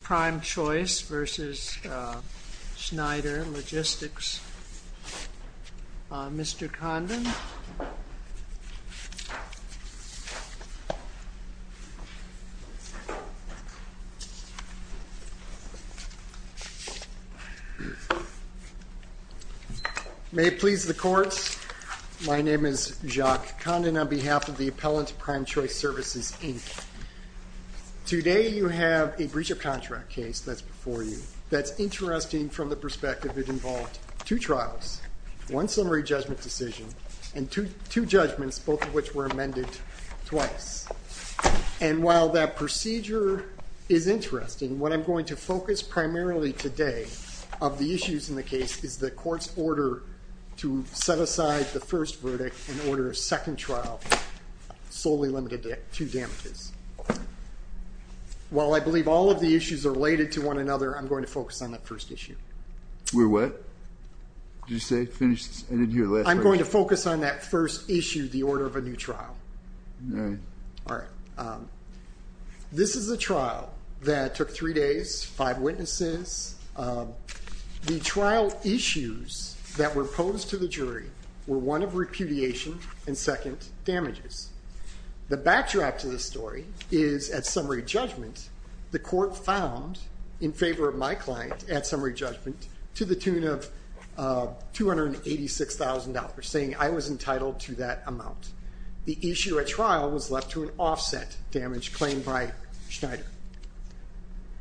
Prime Choice v. Schneider Logistics. Mr. Condon. May it please the courts, my name is Jacques Condon on behalf of the appellant to Prime Choice Services Inc. and I'm going to talk to you today about a procedure contract case that's before you that's interesting from the perspective it involved two trials, one summary judgment decision, and two judgments, both of which were amended twice. And while that procedure is interesting, what I'm going to focus primarily today of the issues in the case is the court's order to set aside the first verdict and order a second trial solely limited to damages. While I believe all of the issues are related to one another, I'm going to focus on that first issue. I'm going to focus on that first issue, the order of a new trial. This is a trial that took three days, five witnesses. The trial issues that were posed to the jury were one of repudiation and second, damages. The backtrack to the story is at summary judgment, the court found in favor of my client at summary judgment to the tune of $286,000, saying I was entitled to that amount. The issue at trial was left to an offset damage claim by Schneider.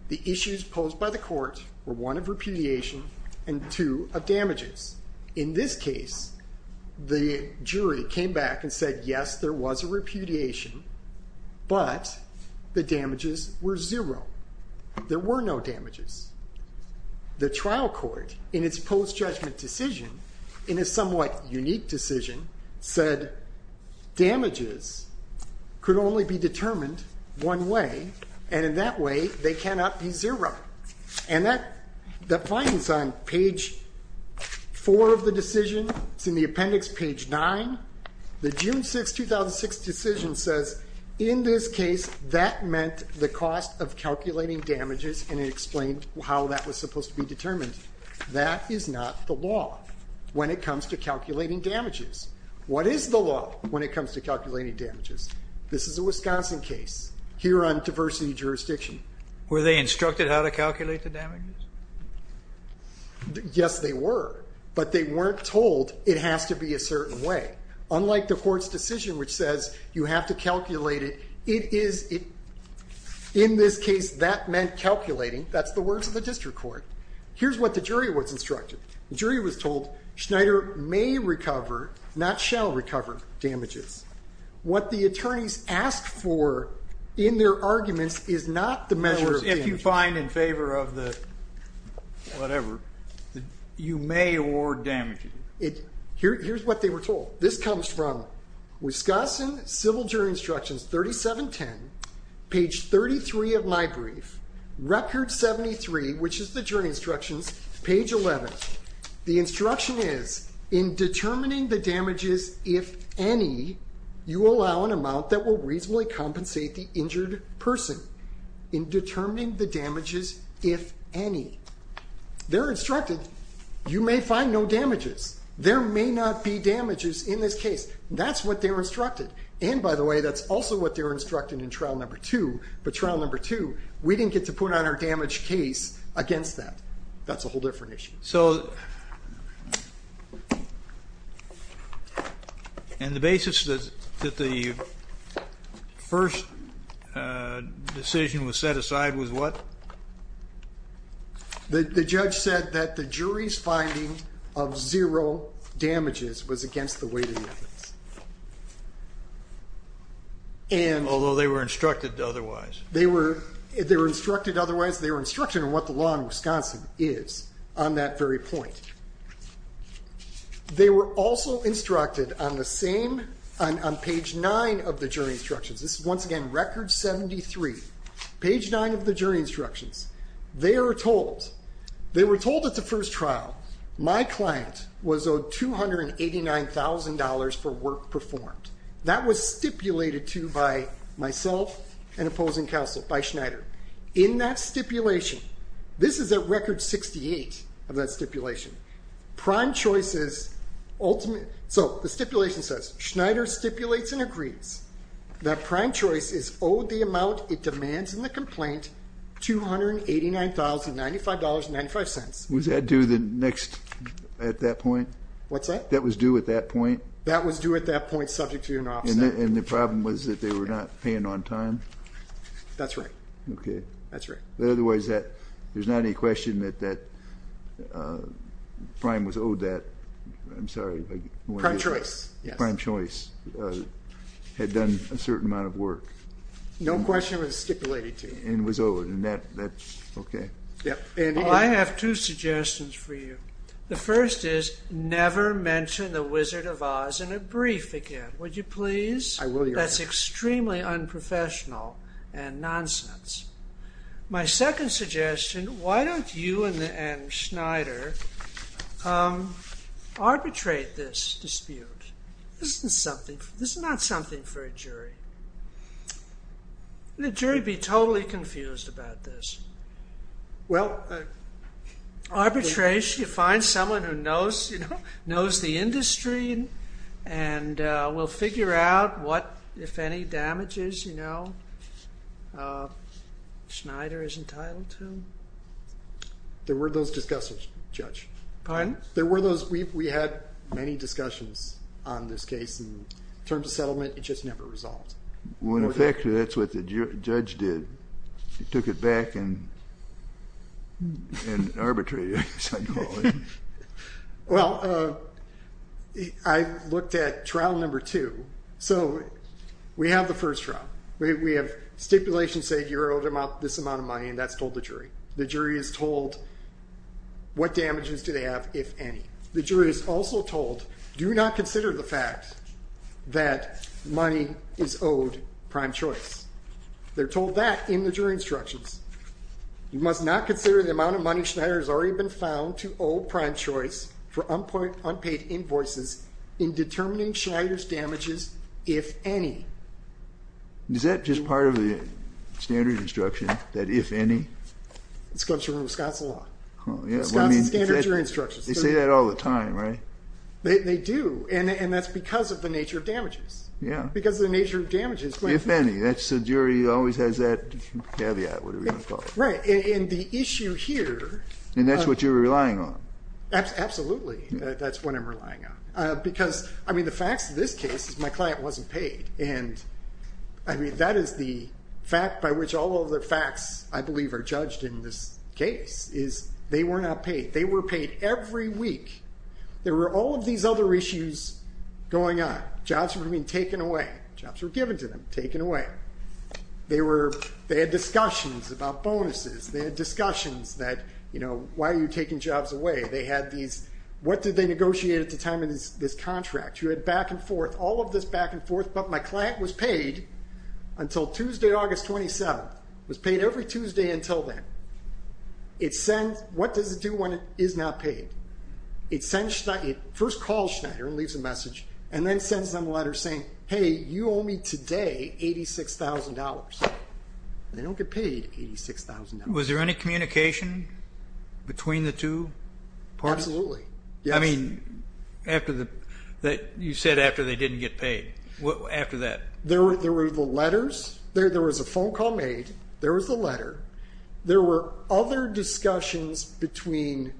The issues posed by the court were one of repudiation and two of damages. In this case, the jury came back and said yes, there was a repudiation, but the damages were zero. There were no damages. The trial court, in its post-judgment decision, in a somewhat unique decision, said damages could only be determined one way, and in that way, they cannot be zero. And that finds on page four of the decision, it's in the appendix page nine, the June 6, 2006 decision says in this case, that meant the cost of calculating damages and it explained how that was supposed to be determined. That is not the law when it comes to calculating damages. What is the law when it comes to calculating damages? This is a Wisconsin case, here on diversity jurisdiction. Were they instructed how to calculate the damages? Yes, they were, but they weren't told it has to be a certain way. Unlike the court's decision which says you have to calculate it, it is, in this case, that meant calculating, that's the words of the district court. Here's what the jury was instructed. The jury was told Schneider may recover, not shall recover, damages. What the attorneys asked for in their arguments is not the measure of damages. If you find in favor of the whatever, you may award damages. Here's what they were told. This comes from Wisconsin Civil Jury Instructions 3710, page 33 of my brief, record 73, which is the jury instructions, page 11. The instruction was in determining the damages, if any, you allow an amount that will reasonably compensate the injured person. In determining the damages, if any. They were instructed you may find no damages. There may not be damages in this case. That's what they were instructed. And by the way, that's also what they were instructed in trial number two, but trial number two, we didn't get to put on our damage case against that. That's a whole different issue. So, and the basis that the first decision was set aside was what? The judge said that the jury's finding of zero damages was against the weighting methods. Although they were instructed otherwise. They were instructed otherwise. They were instructed on what the law in Wisconsin is on that very point. They were also instructed on the same, on page nine of the jury instructions. This is once again record 73, page nine of the jury instructions. They were told, they were told at the first trial, my client was owed $289,000 for work performed. That was stipulated to by myself and opposing counsel, by Schneider. In that stipulation, this is a record 68 of that stipulation. Prime choice is, so the stipulation says, Schneider stipulates and agrees that prime choice is owed the amount it demands in the complaint, $289,095.95. Was that due the next, at that point? What's that? That was due at that point? That was due at that point subject to an offset. And the problem was that they were not paying on time? That's right. Okay. That's right. But otherwise that, there's not any question that, that prime was owed that. I'm sorry. Prime choice. Prime choice had done a certain amount of work. No question it was stipulated to. And was owed. And that, that's okay. Yep. Well, I have two suggestions for you. The first is never mention the Wizard of Oz in a brief again, would you please? I will, Your Honor. That's extremely unprofessional and nonsense. My second suggestion, why don't you and Schneider arbitrate this dispute? This is something, this is not something for a jury. The jury would be totally confused about this. Well. Arbitration, you find someone who knows, you know, knows the industry and will figure out what, if any, damages, you know, Schneider is entitled to. There were those discussions, Judge. Pardon? There were those, we've, we had many discussions on this case. In terms of settlement, it just never resolved. Well, in effect, that's what the judge did. He took it back and, and arbitrated it, as I call it. Well, I looked at trial number two. So, we have the first trial. We, we have stipulations say you're owed this amount of money and that's told the jury. The jury is told what damages do they have, if any. The jury is also told, do not consider the fact that money is owed prime choice. They're told that in the jury instructions. You must not consider the amount of money Schneider has already been found to owe prime choice for unpaid invoices in determining Schneider's damages, if any. Is that just part of the standard instruction, that if any? It's comes from Wisconsin law. Yeah, well I mean. Wisconsin standard jury instructions. They say that all the time, right? They, they do. And, and that's because of the nature of damages. Yeah. Because of the nature of damages. If any. That's the jury always has that caveat, whatever you want to call it. Right, and the issue here. And that's what you're relying on. Absolutely, that's what I'm relying on. Because, I mean, the facts of this case is my client wasn't paid. And, I mean, that is the fact by which all of the facts, I believe, are judged in this case, is they were not paid. They were paid every week. There were all of these other issues going on. Jobs were being taken away. Jobs were given to them, taken away. They were, they had discussions about bonuses. They had discussions that, you know, why are you taking jobs away? They had these, what did they negotiate at the time in this, this contract? You had back and forth, all of this back and forth. But my client was paid until Tuesday, August 27th. Was paid every Tuesday until then. It sends, what does it do when it is not paid? It sends, it first calls Schneider and leaves a message. And then sends them a letter saying, hey, you owe me today $86,000. They don't get paid $86,000. Was there any communication between the two parties? Absolutely, yes. I mean, after the, that you said after they didn't get paid. What, after that? There were, there were the letters. There, there was a phone call made. There was the letter. There were other discussions between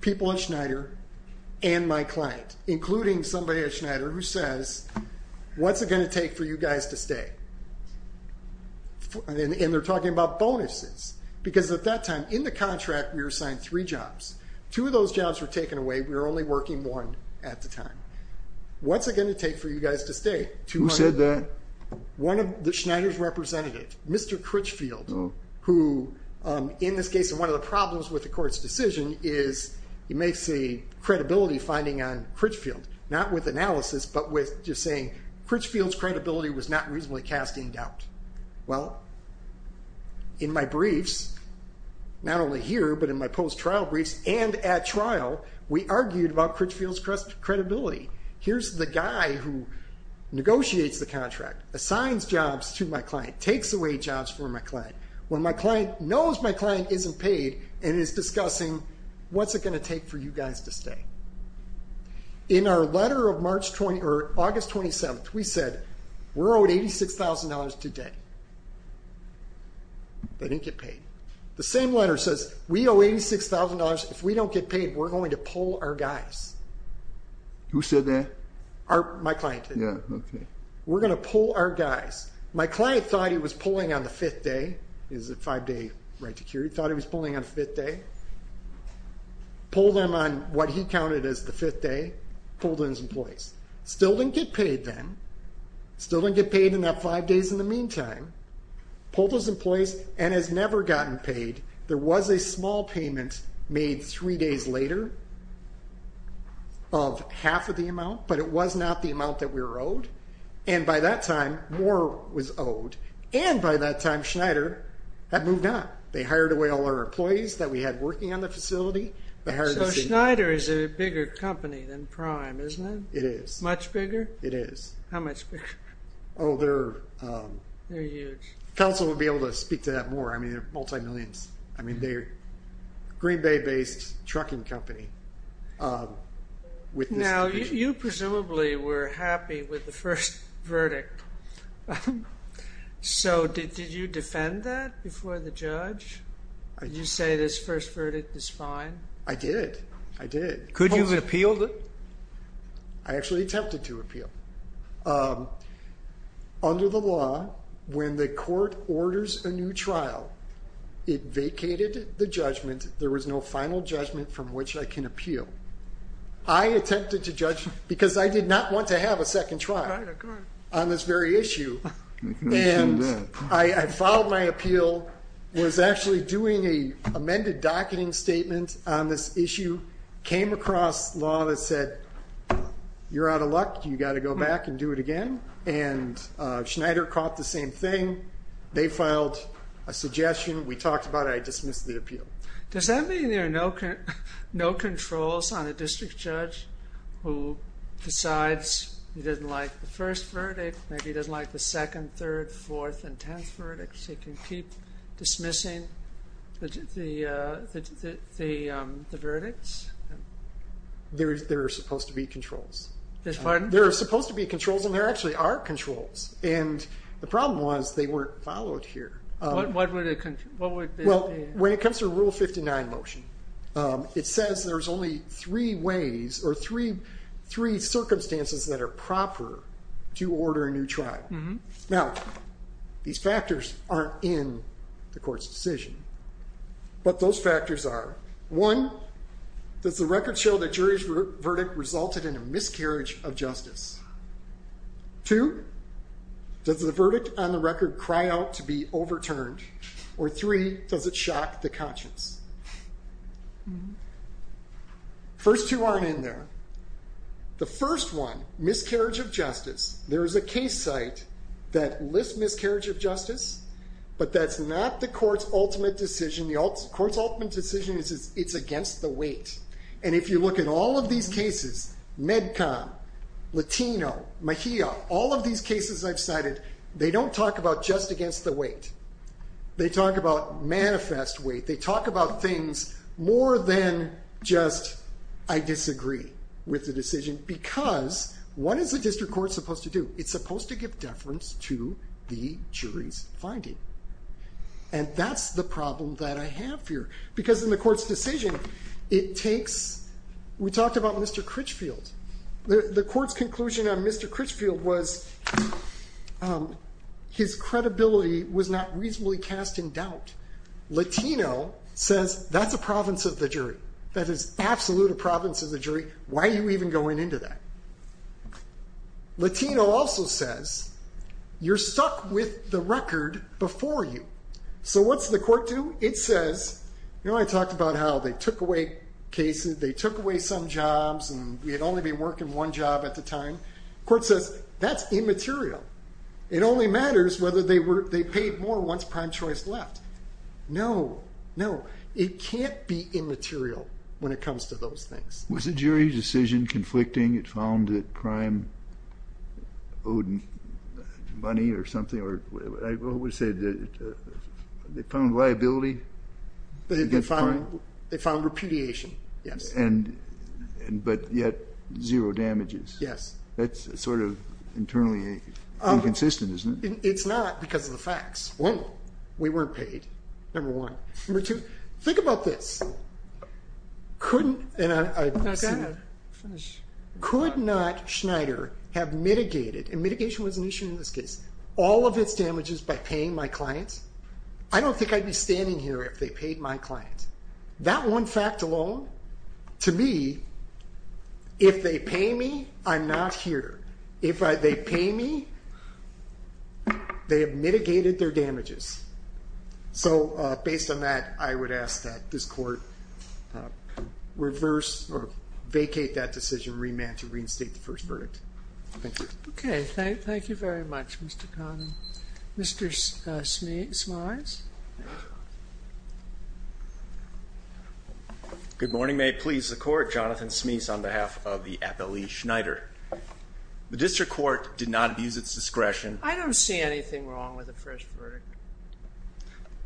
people at Schneider and my client. Including somebody at Schneider who says, what's it going to take for you guys to stay? And, and they're talking about bonuses. Because at that time, in the contract, we were assigned three jobs. Two of those jobs were taken away. We were only working one at the time. What's it going to take for you guys to stay? Two hundred. Who said that? One of the Schneider's representatives, Mr. Critchfield. Oh. Who in this case, and one of the problems with the court's decision is, you may see credibility finding on Critchfield. Not with analysis, but with just saying, Critchfield's credibility was not reasonably cast in doubt. Well, in my briefs, not only here, but in my post-trial briefs and at trial, we argued about Critchfield's credibility. Here's the guy who negotiates the contract, assigns jobs to my client, when my client knows my client isn't paid, and is discussing, what's it going to take for you guys to stay? In our letter of March 20, or August 27th, we said, we're owed $86,000 today. They didn't get paid. The same letter says, we owe $86,000, if we don't get paid, we're going to pull our guys. Who said that? Our, my client did. Yeah, okay. We're going to pull our guys. My client thought he was pulling on the fifth day. Is it five day right to cure? He thought he was pulling on the fifth day. Pulled him on what he counted as the fifth day. Pulled on his employees. Still didn't get paid then. Still didn't get paid in that five days in the meantime. Pulled his employees, and has never gotten paid. There was a small payment made three days later of half of the amount, but it was not the amount that we were owed. And by that time, more was owed. And by that time, Schneider had moved on. They hired away all our employees that we had working on the facility. They hired us in- So Schneider is a bigger company than Prime, isn't it? It is. Much bigger? It is. How much bigger? Oh, they're- They're huge. Council would be able to speak to that more. I mean, they're multi-millions. I mean, they're Green Bay based trucking company. Now, you presumably were happy with the first verdict. So did you defend that before the judge? Did you say this first verdict is fine? I did. I did. Could you have appealed it? I actually attempted to appeal. Under the law, when the court orders a new trial, it vacated the judgment. There was no final judgment from which I can appeal. I attempted to judge because I did not want to have a second trial on this very issue. And I filed my appeal. Was actually doing a amended docketing statement on this issue. Came across law that said, you're out of luck. You got to go back and do it again. And Schneider caught the same thing. They filed a suggestion. We talked about it. I dismissed the appeal. Does that mean there are no controls on a district judge who decides he doesn't like the first verdict, maybe he doesn't like the second, third, fourth, and tenth verdicts? He can keep dismissing the verdicts? There are supposed to be controls. There are supposed to be controls, and there actually are controls. And the problem was, they weren't followed here. What would it be? When it comes to a Rule 59 motion, it says there's only three ways or three circumstances that are proper to order a new trial. Now, these factors aren't in the court's decision. But those factors are, one, does the record show that jury's verdict resulted in a miscarriage of justice? Two, does the verdict on the record cry out to be overturned? Or three, does it shock the conscience? First two aren't in there. The first one, miscarriage of justice, there is a case site that lists miscarriage of justice, but that's not the court's ultimate decision. The court's ultimate decision is it's against the weight. And if you look at all of these cases, MedCon, Latino, Mejia, all of these cases I've cited, they don't talk about just against the weight. They talk about manifest weight. They talk about things more than just, I disagree with the decision. Because what is the district court supposed to do? It's supposed to give deference to the jury's finding. And that's the problem that I have here. Because in the court's decision, it takes, we talked about Mr. Critchfield. The court's conclusion on Mr. Critchfield was his credibility was not reasonably cast in doubt. Latino says, that's a province of the jury. That is absolute a province of the jury. Why are you even going into that? Latino also says, you're stuck with the record before you. So what's the court do? It says, you know I talked about how they took away cases. They took away some jobs, and we had only been working one job at the time. Court says, that's immaterial. It only matters whether they paid more once prime choice left. No, no. It can't be immaterial when it comes to those things. Was the jury's decision conflicting? It found that crime owed money or something? Or I always say, they found liability? They found repudiation, yes. But yet, zero damages. That's sort of internally inconsistent, isn't it? It's not because of the facts. One, we weren't paid, number one. Number two, think about this. Could not Schneider have mitigated, and mitigation was an issue in this case, all of its damages by paying my clients? I don't think I'd be standing here if they paid my clients. That one fact alone, to me, if they pay me, I'm not here. If they pay me, they have mitigated their damages. So based on that, I would ask that this court reverse, or vacate that decision, remand to reinstate the first verdict. Thank you. OK, thank you very much, Mr. Connell. Mr. Smyth? Good morning. May it please the court. Jonathan Smyth on behalf of the Appellee Schneider. The district court did not abuse its discretion. I don't see anything wrong with the first verdict.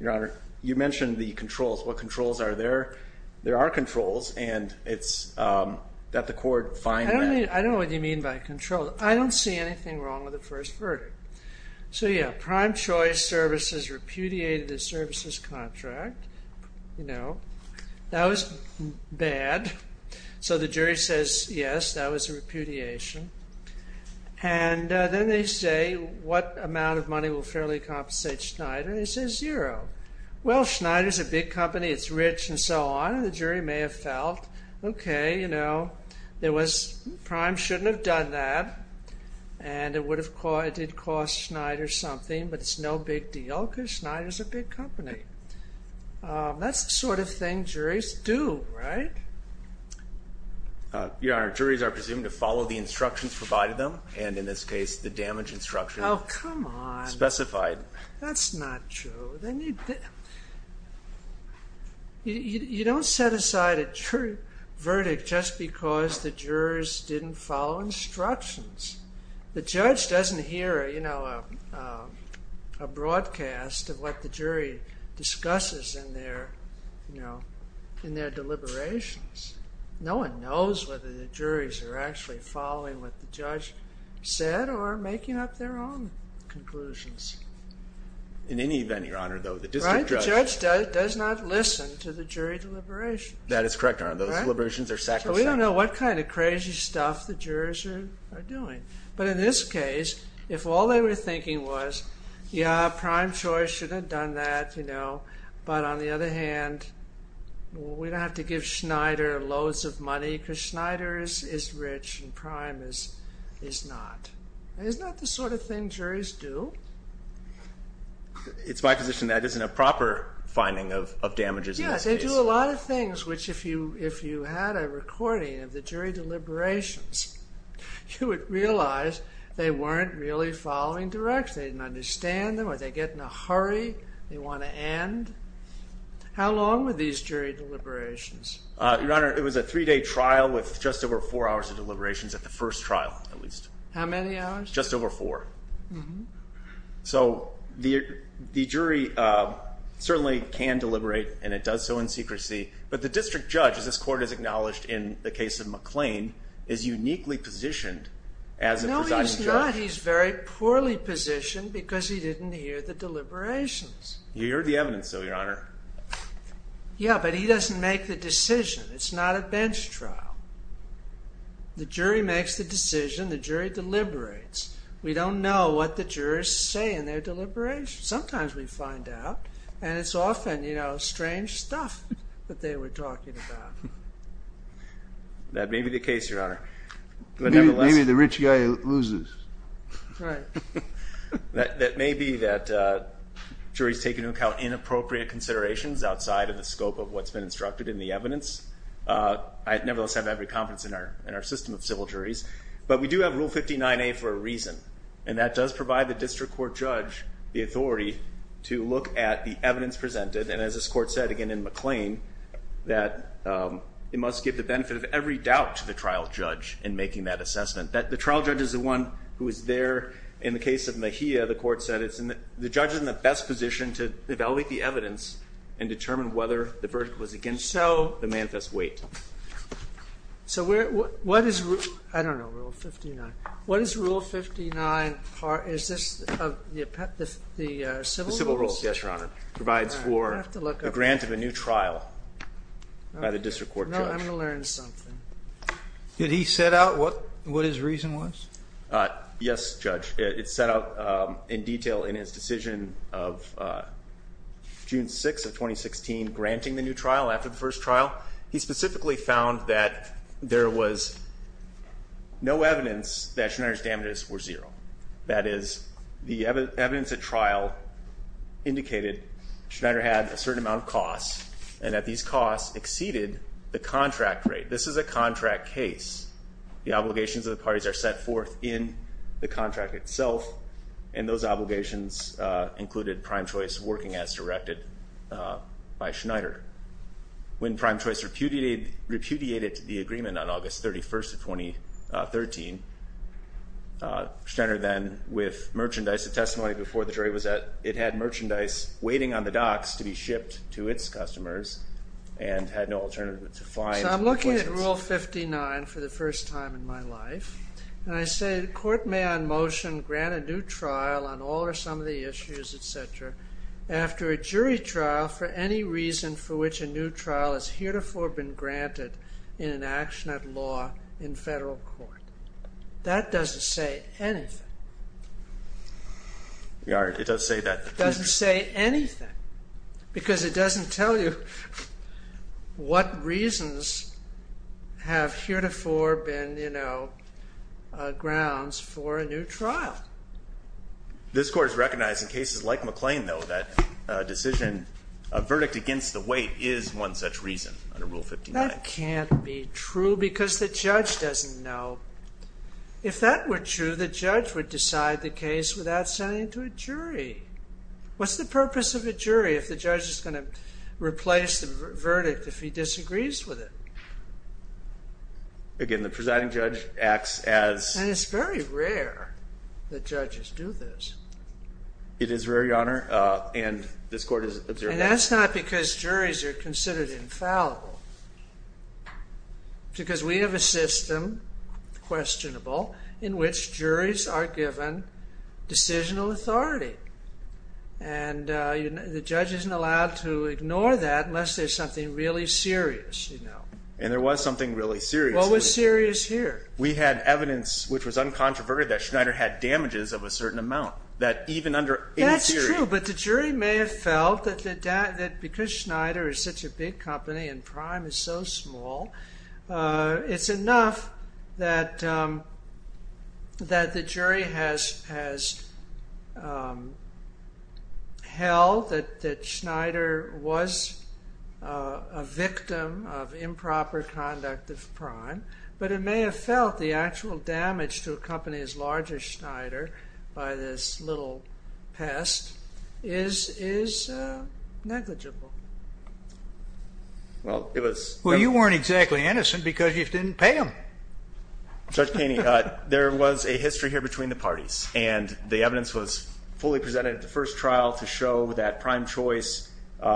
Your Honor, you mentioned the controls. What controls are there? There are controls, and it's that the court find that. I don't know what you mean by controls. I don't see anything wrong with the first verdict. So yeah, prime choice services repudiated the services contract. That was bad. So the jury says, yes, that was a repudiation. And then they say, what amount of money will fairly compensate Schneider? And he says, zero. Well, Schneider's a big company. It's rich, and so on. The jury may have felt, OK, prime shouldn't have done that. And it did cost Schneider something, but it's no big deal, because Schneider's a big company. That's the sort of thing juries do, right? Your Honor, juries are presumed to follow the instructions provided to them, and in this case, the damage instruction specified. That's not true. They need to. You don't set aside a jury verdict just because the jurors didn't follow instructions. The judge doesn't hear a broadcast of what the jury discusses in their deliberations. No one knows whether the juries are actually following what the judge said or making up their own conclusions. In any event, Your Honor, though, the district judge does not listen to the jury deliberations. That is correct, Your Honor. Those deliberations are sacrosanct. So we don't know what kind of crazy stuff the jurors are doing. But in this case, if all they were thinking was, yeah, Prime Choice should have done that, but on the other hand, we don't have to give Schneider loads of money, because Schneider is rich and Prime is not. Isn't that the sort of thing juries do? It's my position that isn't a proper finding of damages in this case. Yes, they do a lot of things, which if you had a recording of the jury deliberations, you would realize they weren't really following direction. They didn't understand them. Or they get in a hurry. They want to end. How long were these jury deliberations? Your Honor, it was a three-day trial with just over four hours of deliberations at the first trial, at least. How many hours? Just over four. So the jury certainly can deliberate, and it does so in secrecy. But the district judge, as this court has acknowledged in the case of McLean, is uniquely positioned as a presiding judge. No, he's not. He's very poorly positioned, because he didn't hear the deliberations. You heard the evidence, though, Your Honor. Yeah, but he doesn't make the decision. It's not a bench trial. The jury makes the decision. The jury deliberates. We don't know what the jurors say in their deliberations. Sometimes we find out, and it's often strange stuff. But they were talking about. That may be the case, Your Honor. But nevertheless. Maybe the rich guy loses. Right. That may be that juries take into account inappropriate considerations outside of the scope of what's been instructed in the evidence. I nevertheless have every confidence in our system of civil juries. But we do have Rule 59A for a reason, and that does provide the district court judge the authority to look at the evidence presented. And as this court said, again, in McLean, that it must give the benefit of every doubt to the trial judge in making that assessment. The trial judge is the one who is there. In the case of Mejia, the court said, the judge is in the best position to evaluate the evidence and determine whether the verdict was against the manifest weight. So what is Rule 59? Is this the civil rules? The civil rules, yes, Your Honor. Provides for the grant of a new trial by the district court judge. I'm going to learn something. Did he set out what his reason was? Yes, Judge. It's set out in detail in his decision of June 6 of 2016, granting the new trial after the first trial. He specifically found that there was no evidence that Schneider's damages were zero. That is, the evidence at trial indicated Schneider had a certain amount of costs and that these costs exceeded the contract rate. This is a contract case. The obligations of the parties are set forth in the contract itself. And those obligations included Prime Choice working as directed by Schneider. When Prime Choice repudiated the agreement on August 31 of 2013, Schneider then, with merchandise, a testimony before the jury, was that it had merchandise waiting on the docks to be shipped to its customers and had no alternative to find the claims. So I'm looking at Rule 59 for the first time in my life. And I say, the court may on motion grant a new trial on all or some of the issues, et cetera, after a jury trial for any reason for which a new trial is heretofore been granted in an action of law in federal court. That doesn't say anything. Yeah, it does say that. Doesn't say anything, because it doesn't tell you what reasons have heretofore been grounds for a new trial. This court is recognizing cases like McLean, though, that a decision, a verdict against the weight is one such reason under Rule 59. That can't be true, because the judge doesn't know. If that were true, the judge would decide the case without sending it to a jury. What's the purpose of a jury if the judge is going to replace the verdict if he disagrees with it? Again, the presiding judge acts as. And it's very rare that judges do this. It is rare, Your Honor. And this court has observed that. That's not because juries are considered infallible. Because we have a system, questionable, in which juries are given decisional authority. And the judge isn't allowed to ignore that unless there's something really serious. And there was something really serious. What was serious here? We had evidence, which was uncontroverted, that Schneider had damages of a certain amount, that even under any theory. That's true. But the jury may have felt that because Schneider is such a big company and Prime is so small, it's enough that the jury has held that Schneider was a victim of improper conduct of Prime. But it may have felt the actual damage to a company as large as Schneider by this little pest is negligible. Well, it was. Well, you weren't exactly innocent because you didn't pay him. Judge Keeney, there was a history here between the parties. And the evidence was fully presented at the first trial to show that Prime Choice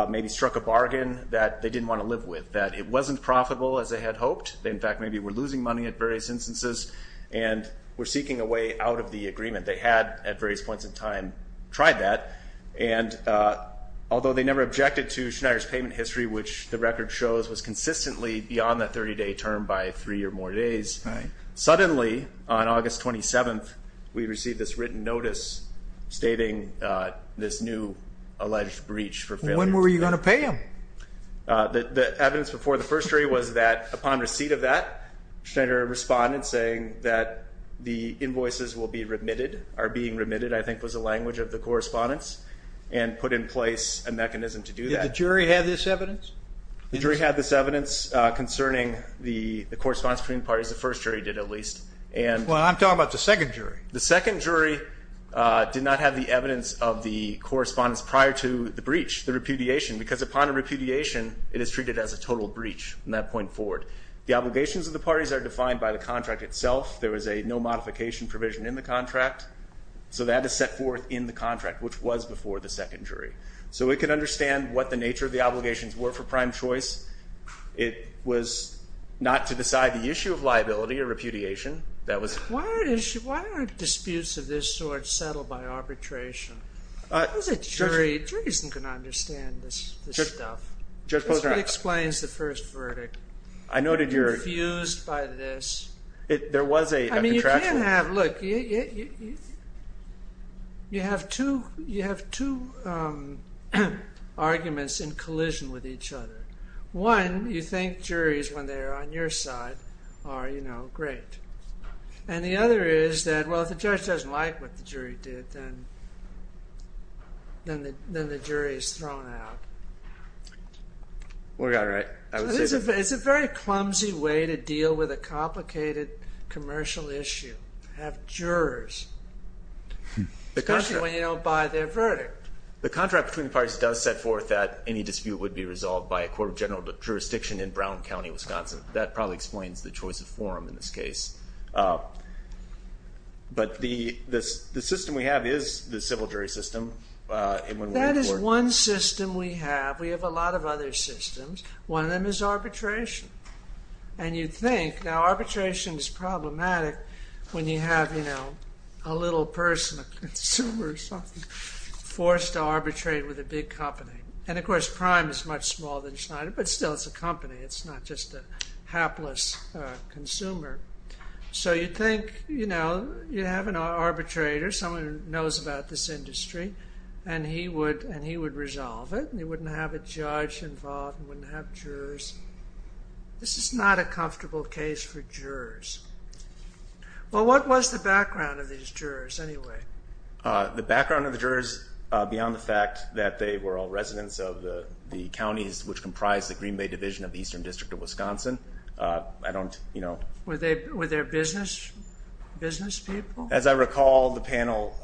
maybe struck a bargain that they didn't want to live with. That it wasn't profitable as they had hoped. They, in fact, maybe were losing money at various instances. And were seeking a way out of the agreement. They had, at various points in time, tried that. And although they never objected to Schneider's payment history, which the record shows was consistently beyond the 30-day term by three or more days, suddenly, on August 27th, we received this written notice stating this new alleged breach for failure to pay. When were you going to pay him? The evidence before the first jury was that upon receipt of that, Schneider responded saying that the invoices will be remitted, are being remitted, I think was the language of the correspondence. And put in place a mechanism to do that. Did the jury have this evidence? The jury had this evidence concerning the correspondence between parties. The first jury did, at least. Well, I'm talking about the second jury. The second jury did not have the evidence of the correspondence prior to the breach, the repudiation. Because upon a repudiation, it is treated as a total breach from that point forward. The obligations of the parties are defined by the contract itself. There was a no modification provision in the contract. So that is set forth in the contract, which was before the second jury. So we can understand what the nature of the obligations were for prime choice. It was not to decide the issue of liability or repudiation. Why are disputes of this sort settled by arbitration? As a jury, a jury isn't going to understand this stuff. Judge Posner. This explains the first verdict. I noted your Confused by this. There was a contraction. Look, you have two arguments in collision with each other. One, you think juries, when they're on your side, are, you know, great. And the other is that, well, if the judge doesn't like what the jury did, then the jury is thrown out. We got it right. It's a very clumsy way to deal with a complicated commercial issue, have jurors, especially when you don't buy their verdict. The contract between the parties does set forth that any dispute would be resolved by a court of general jurisdiction in Brown County, Wisconsin. That probably explains the choice of forum in this case. But the system we have is the civil jury system. That is one system we have. We have a lot of other systems. One of them is arbitration. And you'd think, now, arbitration is problematic when you have, you know, a little person, a consumer or something, forced to arbitrate with a big company. And of course, Prime is much smaller than Schneider, but still, it's a company. It's not just a hapless consumer. So you'd think, you know, you have an arbitrator, someone who knows about this industry, and he would resolve it. And he wouldn't have a judge involved and wouldn't have jurors. This is not a comfortable case for jurors. Well, what was the background of these jurors, anyway? The background of the jurors, beyond the fact that they were all residents of the counties which comprise the Green Bay Division of the Eastern District of Wisconsin, I don't, you know. Were they business people? As I recall, the panel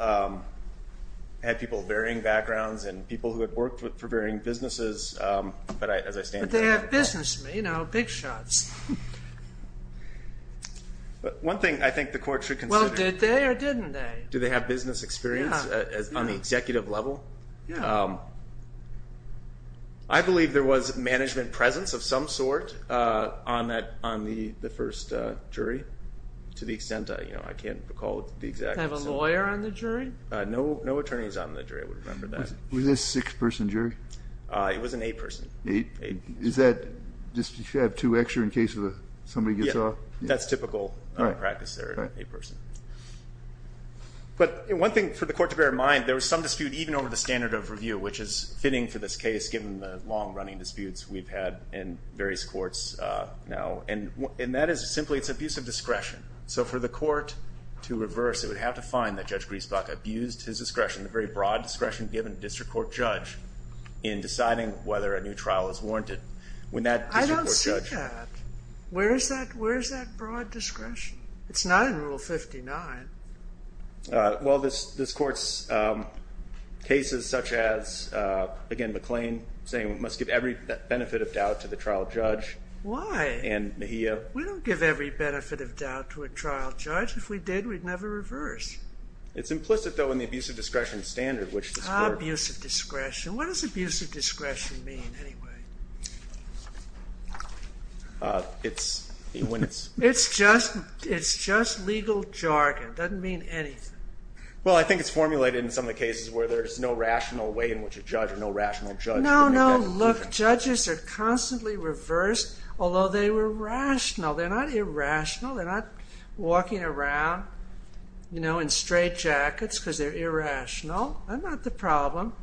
had people of varying backgrounds and people who had worked for varying businesses. But as I stand here, I have a question. But they have business, you know, big shots. One thing I think the court should consider. Well, did they or didn't they? Do they have business experience on the executive level? I believe there was management presence of some sort on the first jury, to the extent that I can't recall the exact extent. Did they have a lawyer on the jury? No attorneys on the jury, I would remember that. Was it a six-person jury? It was an eight-person. Is that just to have two extra in case somebody gets off? That's typical practice there, an eight-person. But one thing for the court to bear in mind, there was some dispute even over the standard of review, which is fitting for this case, given the long-running disputes we've had in various courts now. And that is simply, it's abuse of discretion. So for the court to reverse, it would have to find that Judge Griesbach abused his discretion, a very broad discretion given a district court judge, in deciding whether a new trial is warranted when that district court judge. I don't see that. Where is that broad discretion? It's not in Rule 59. Well, this court's cases such as, again, McLean saying we must give every benefit of doubt to the trial judge. Why? And Mejia. We don't give every benefit of doubt to a trial judge. If we did, we'd never reverse. It's implicit, though, in the abuse of discretion standard, which this court. Abuse of discretion. What does abuse of discretion mean, anyway? It's when it's. It's just legal jargon. Doesn't mean anything. Well, I think it's formulated in some of the cases where there's no rational way in which a judge or no rational judge would make that. No, no, look, judges are constantly reversed, although they were rational. They're not irrational. They're not walking around in straight jackets because they're irrational. They're not the problem.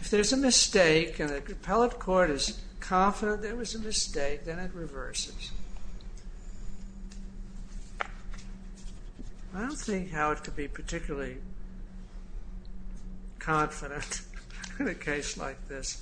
If there's a mistake and the appellate court is confident there was a mistake, then it reverses. I don't think Howard could be particularly confident in a case like this.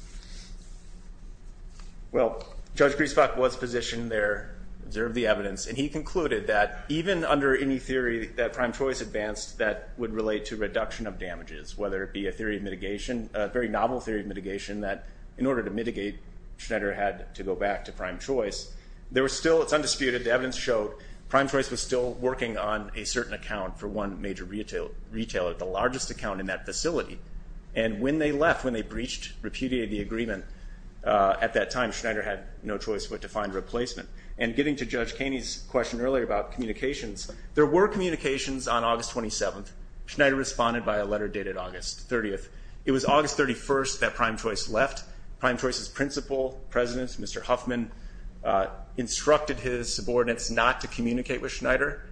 Well, Judge Griesbach was positioned there, observed the evidence, and he concluded that even under any theory that prime choice advanced, that would relate to reduction of damages, whether it be a theory of mitigation, a very novel theory of mitigation, that in order to mitigate, Schneider had to go back to prime choice. There was still, it's undisputed, the evidence showed prime choice was still working on a certain account for one major retailer, the largest account in that facility. And when they left, when they breached, repudiated the agreement at that time, Schneider had no choice but to find replacement. And getting to Judge Kaney's question earlier about communications, there were communications on August 27th. Schneider responded by a letter dated August 30th. It was August 31st that prime choice left. Prime choice's principal, President Mr. Huffman, instructed his subordinates not to communicate with Schneider.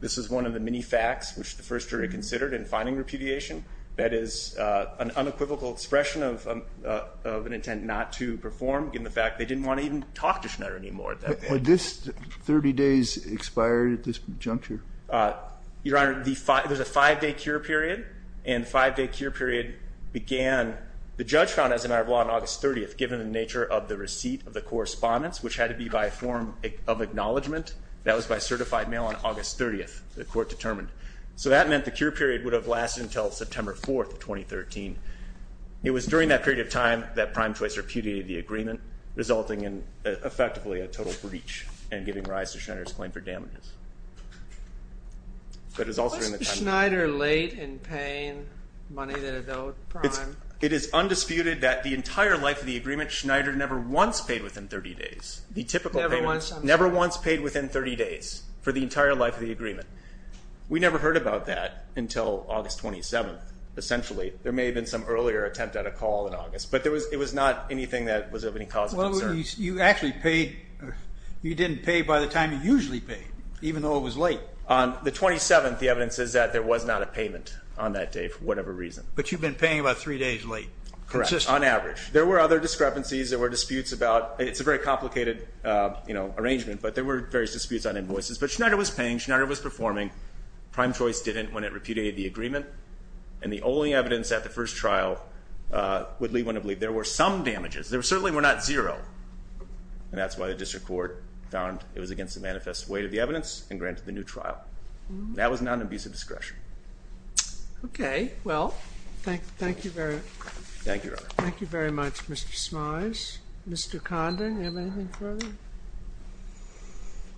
This is one of the many facts which the first jury considered in finding repudiation. That is an unequivocal expression of an intent not to perform, given the fact they didn't want to even talk to Schneider anymore at that point. Would this 30 days expire at this juncture? Your Honor, there's a five day cure period. And five day cure period began, the judge found as a matter of law, on August 30th, given the nature of the receipt of the correspondence, which had to be by a form of acknowledgment. That was by certified mail on August 30th, the court determined. So that meant the cure period would have lasted until September 4th, 2013. It was during that period of time that prime choice repudiated the agreement, resulting in, effectively, a total breach, and giving rise to Schneider's claim for damages. But it was also in the 10 days. Why was Schneider late in paying money to the prime? It is undisputed that the entire life of the agreement, Schneider never once paid within 30 days. The typical payment. Never once paid within 30 days for the entire life of the agreement. We never heard about that until August 27th, essentially. There may have been some earlier attempt at a call in August, but it was not anything that was of any cause of concern. You actually paid. You didn't pay by the time you usually pay, even though it was late. On the 27th, the evidence is that there was not a payment on that day, for whatever reason. But you've been paying about three days late, consistently. Correct, on average. There were other discrepancies. There were disputes about. It's a very complicated arrangement, but there were various disputes on invoices. But Schneider was paying. Schneider was performing. Prime choice didn't when it repudiated the agreement. And the only evidence at the first trial would lead one to believe there were some damages. There certainly were not zero. And that's why the district court found it was against the manifest weight of the evidence and granted the new trial. That was non-abusive discretion. OK, well, thank you very much, Mr. Smythes. Mr. Condon, do you have anything further? I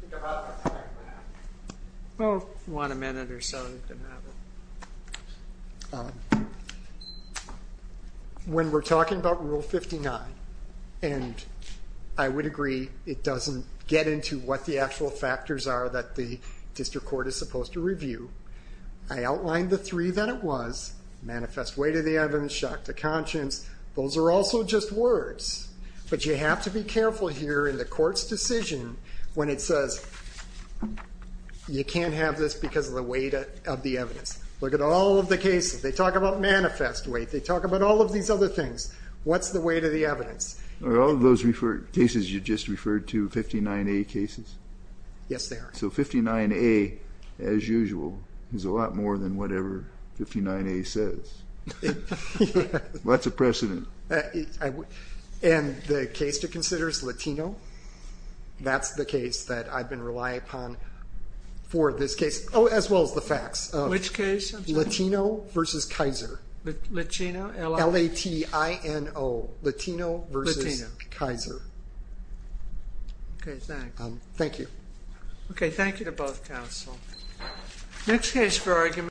think I have my time, ma'am. Well, if you want a minute or so, you can have it. When we're talking about Rule 59, and I would agree it doesn't get into what the actual factors are that the district court is supposed to review, I outlined the three that it was. Manifest weight of the evidence, shock to conscience. Those are also just words. But you have to be careful here in the court's decision when it says you can't have this because of the weight of the evidence. Look at all of the cases. They talk about manifest weight. They talk about all of these other things. What's the weight of the evidence? Are all of those cases you just referred to 59A cases? Yes, they are. So 59A, as usual, is a lot more than whatever 59A says. Lots of precedent. And the case to consider is Latino. That's the case that I've been relying upon for this case, as well as the facts. Which case? Latino versus Kaiser. Latino? L-A-T-I-N-O. Latino versus Kaiser. OK, thanks. Thank you. OK, thank you to both counsel. Next case for argument.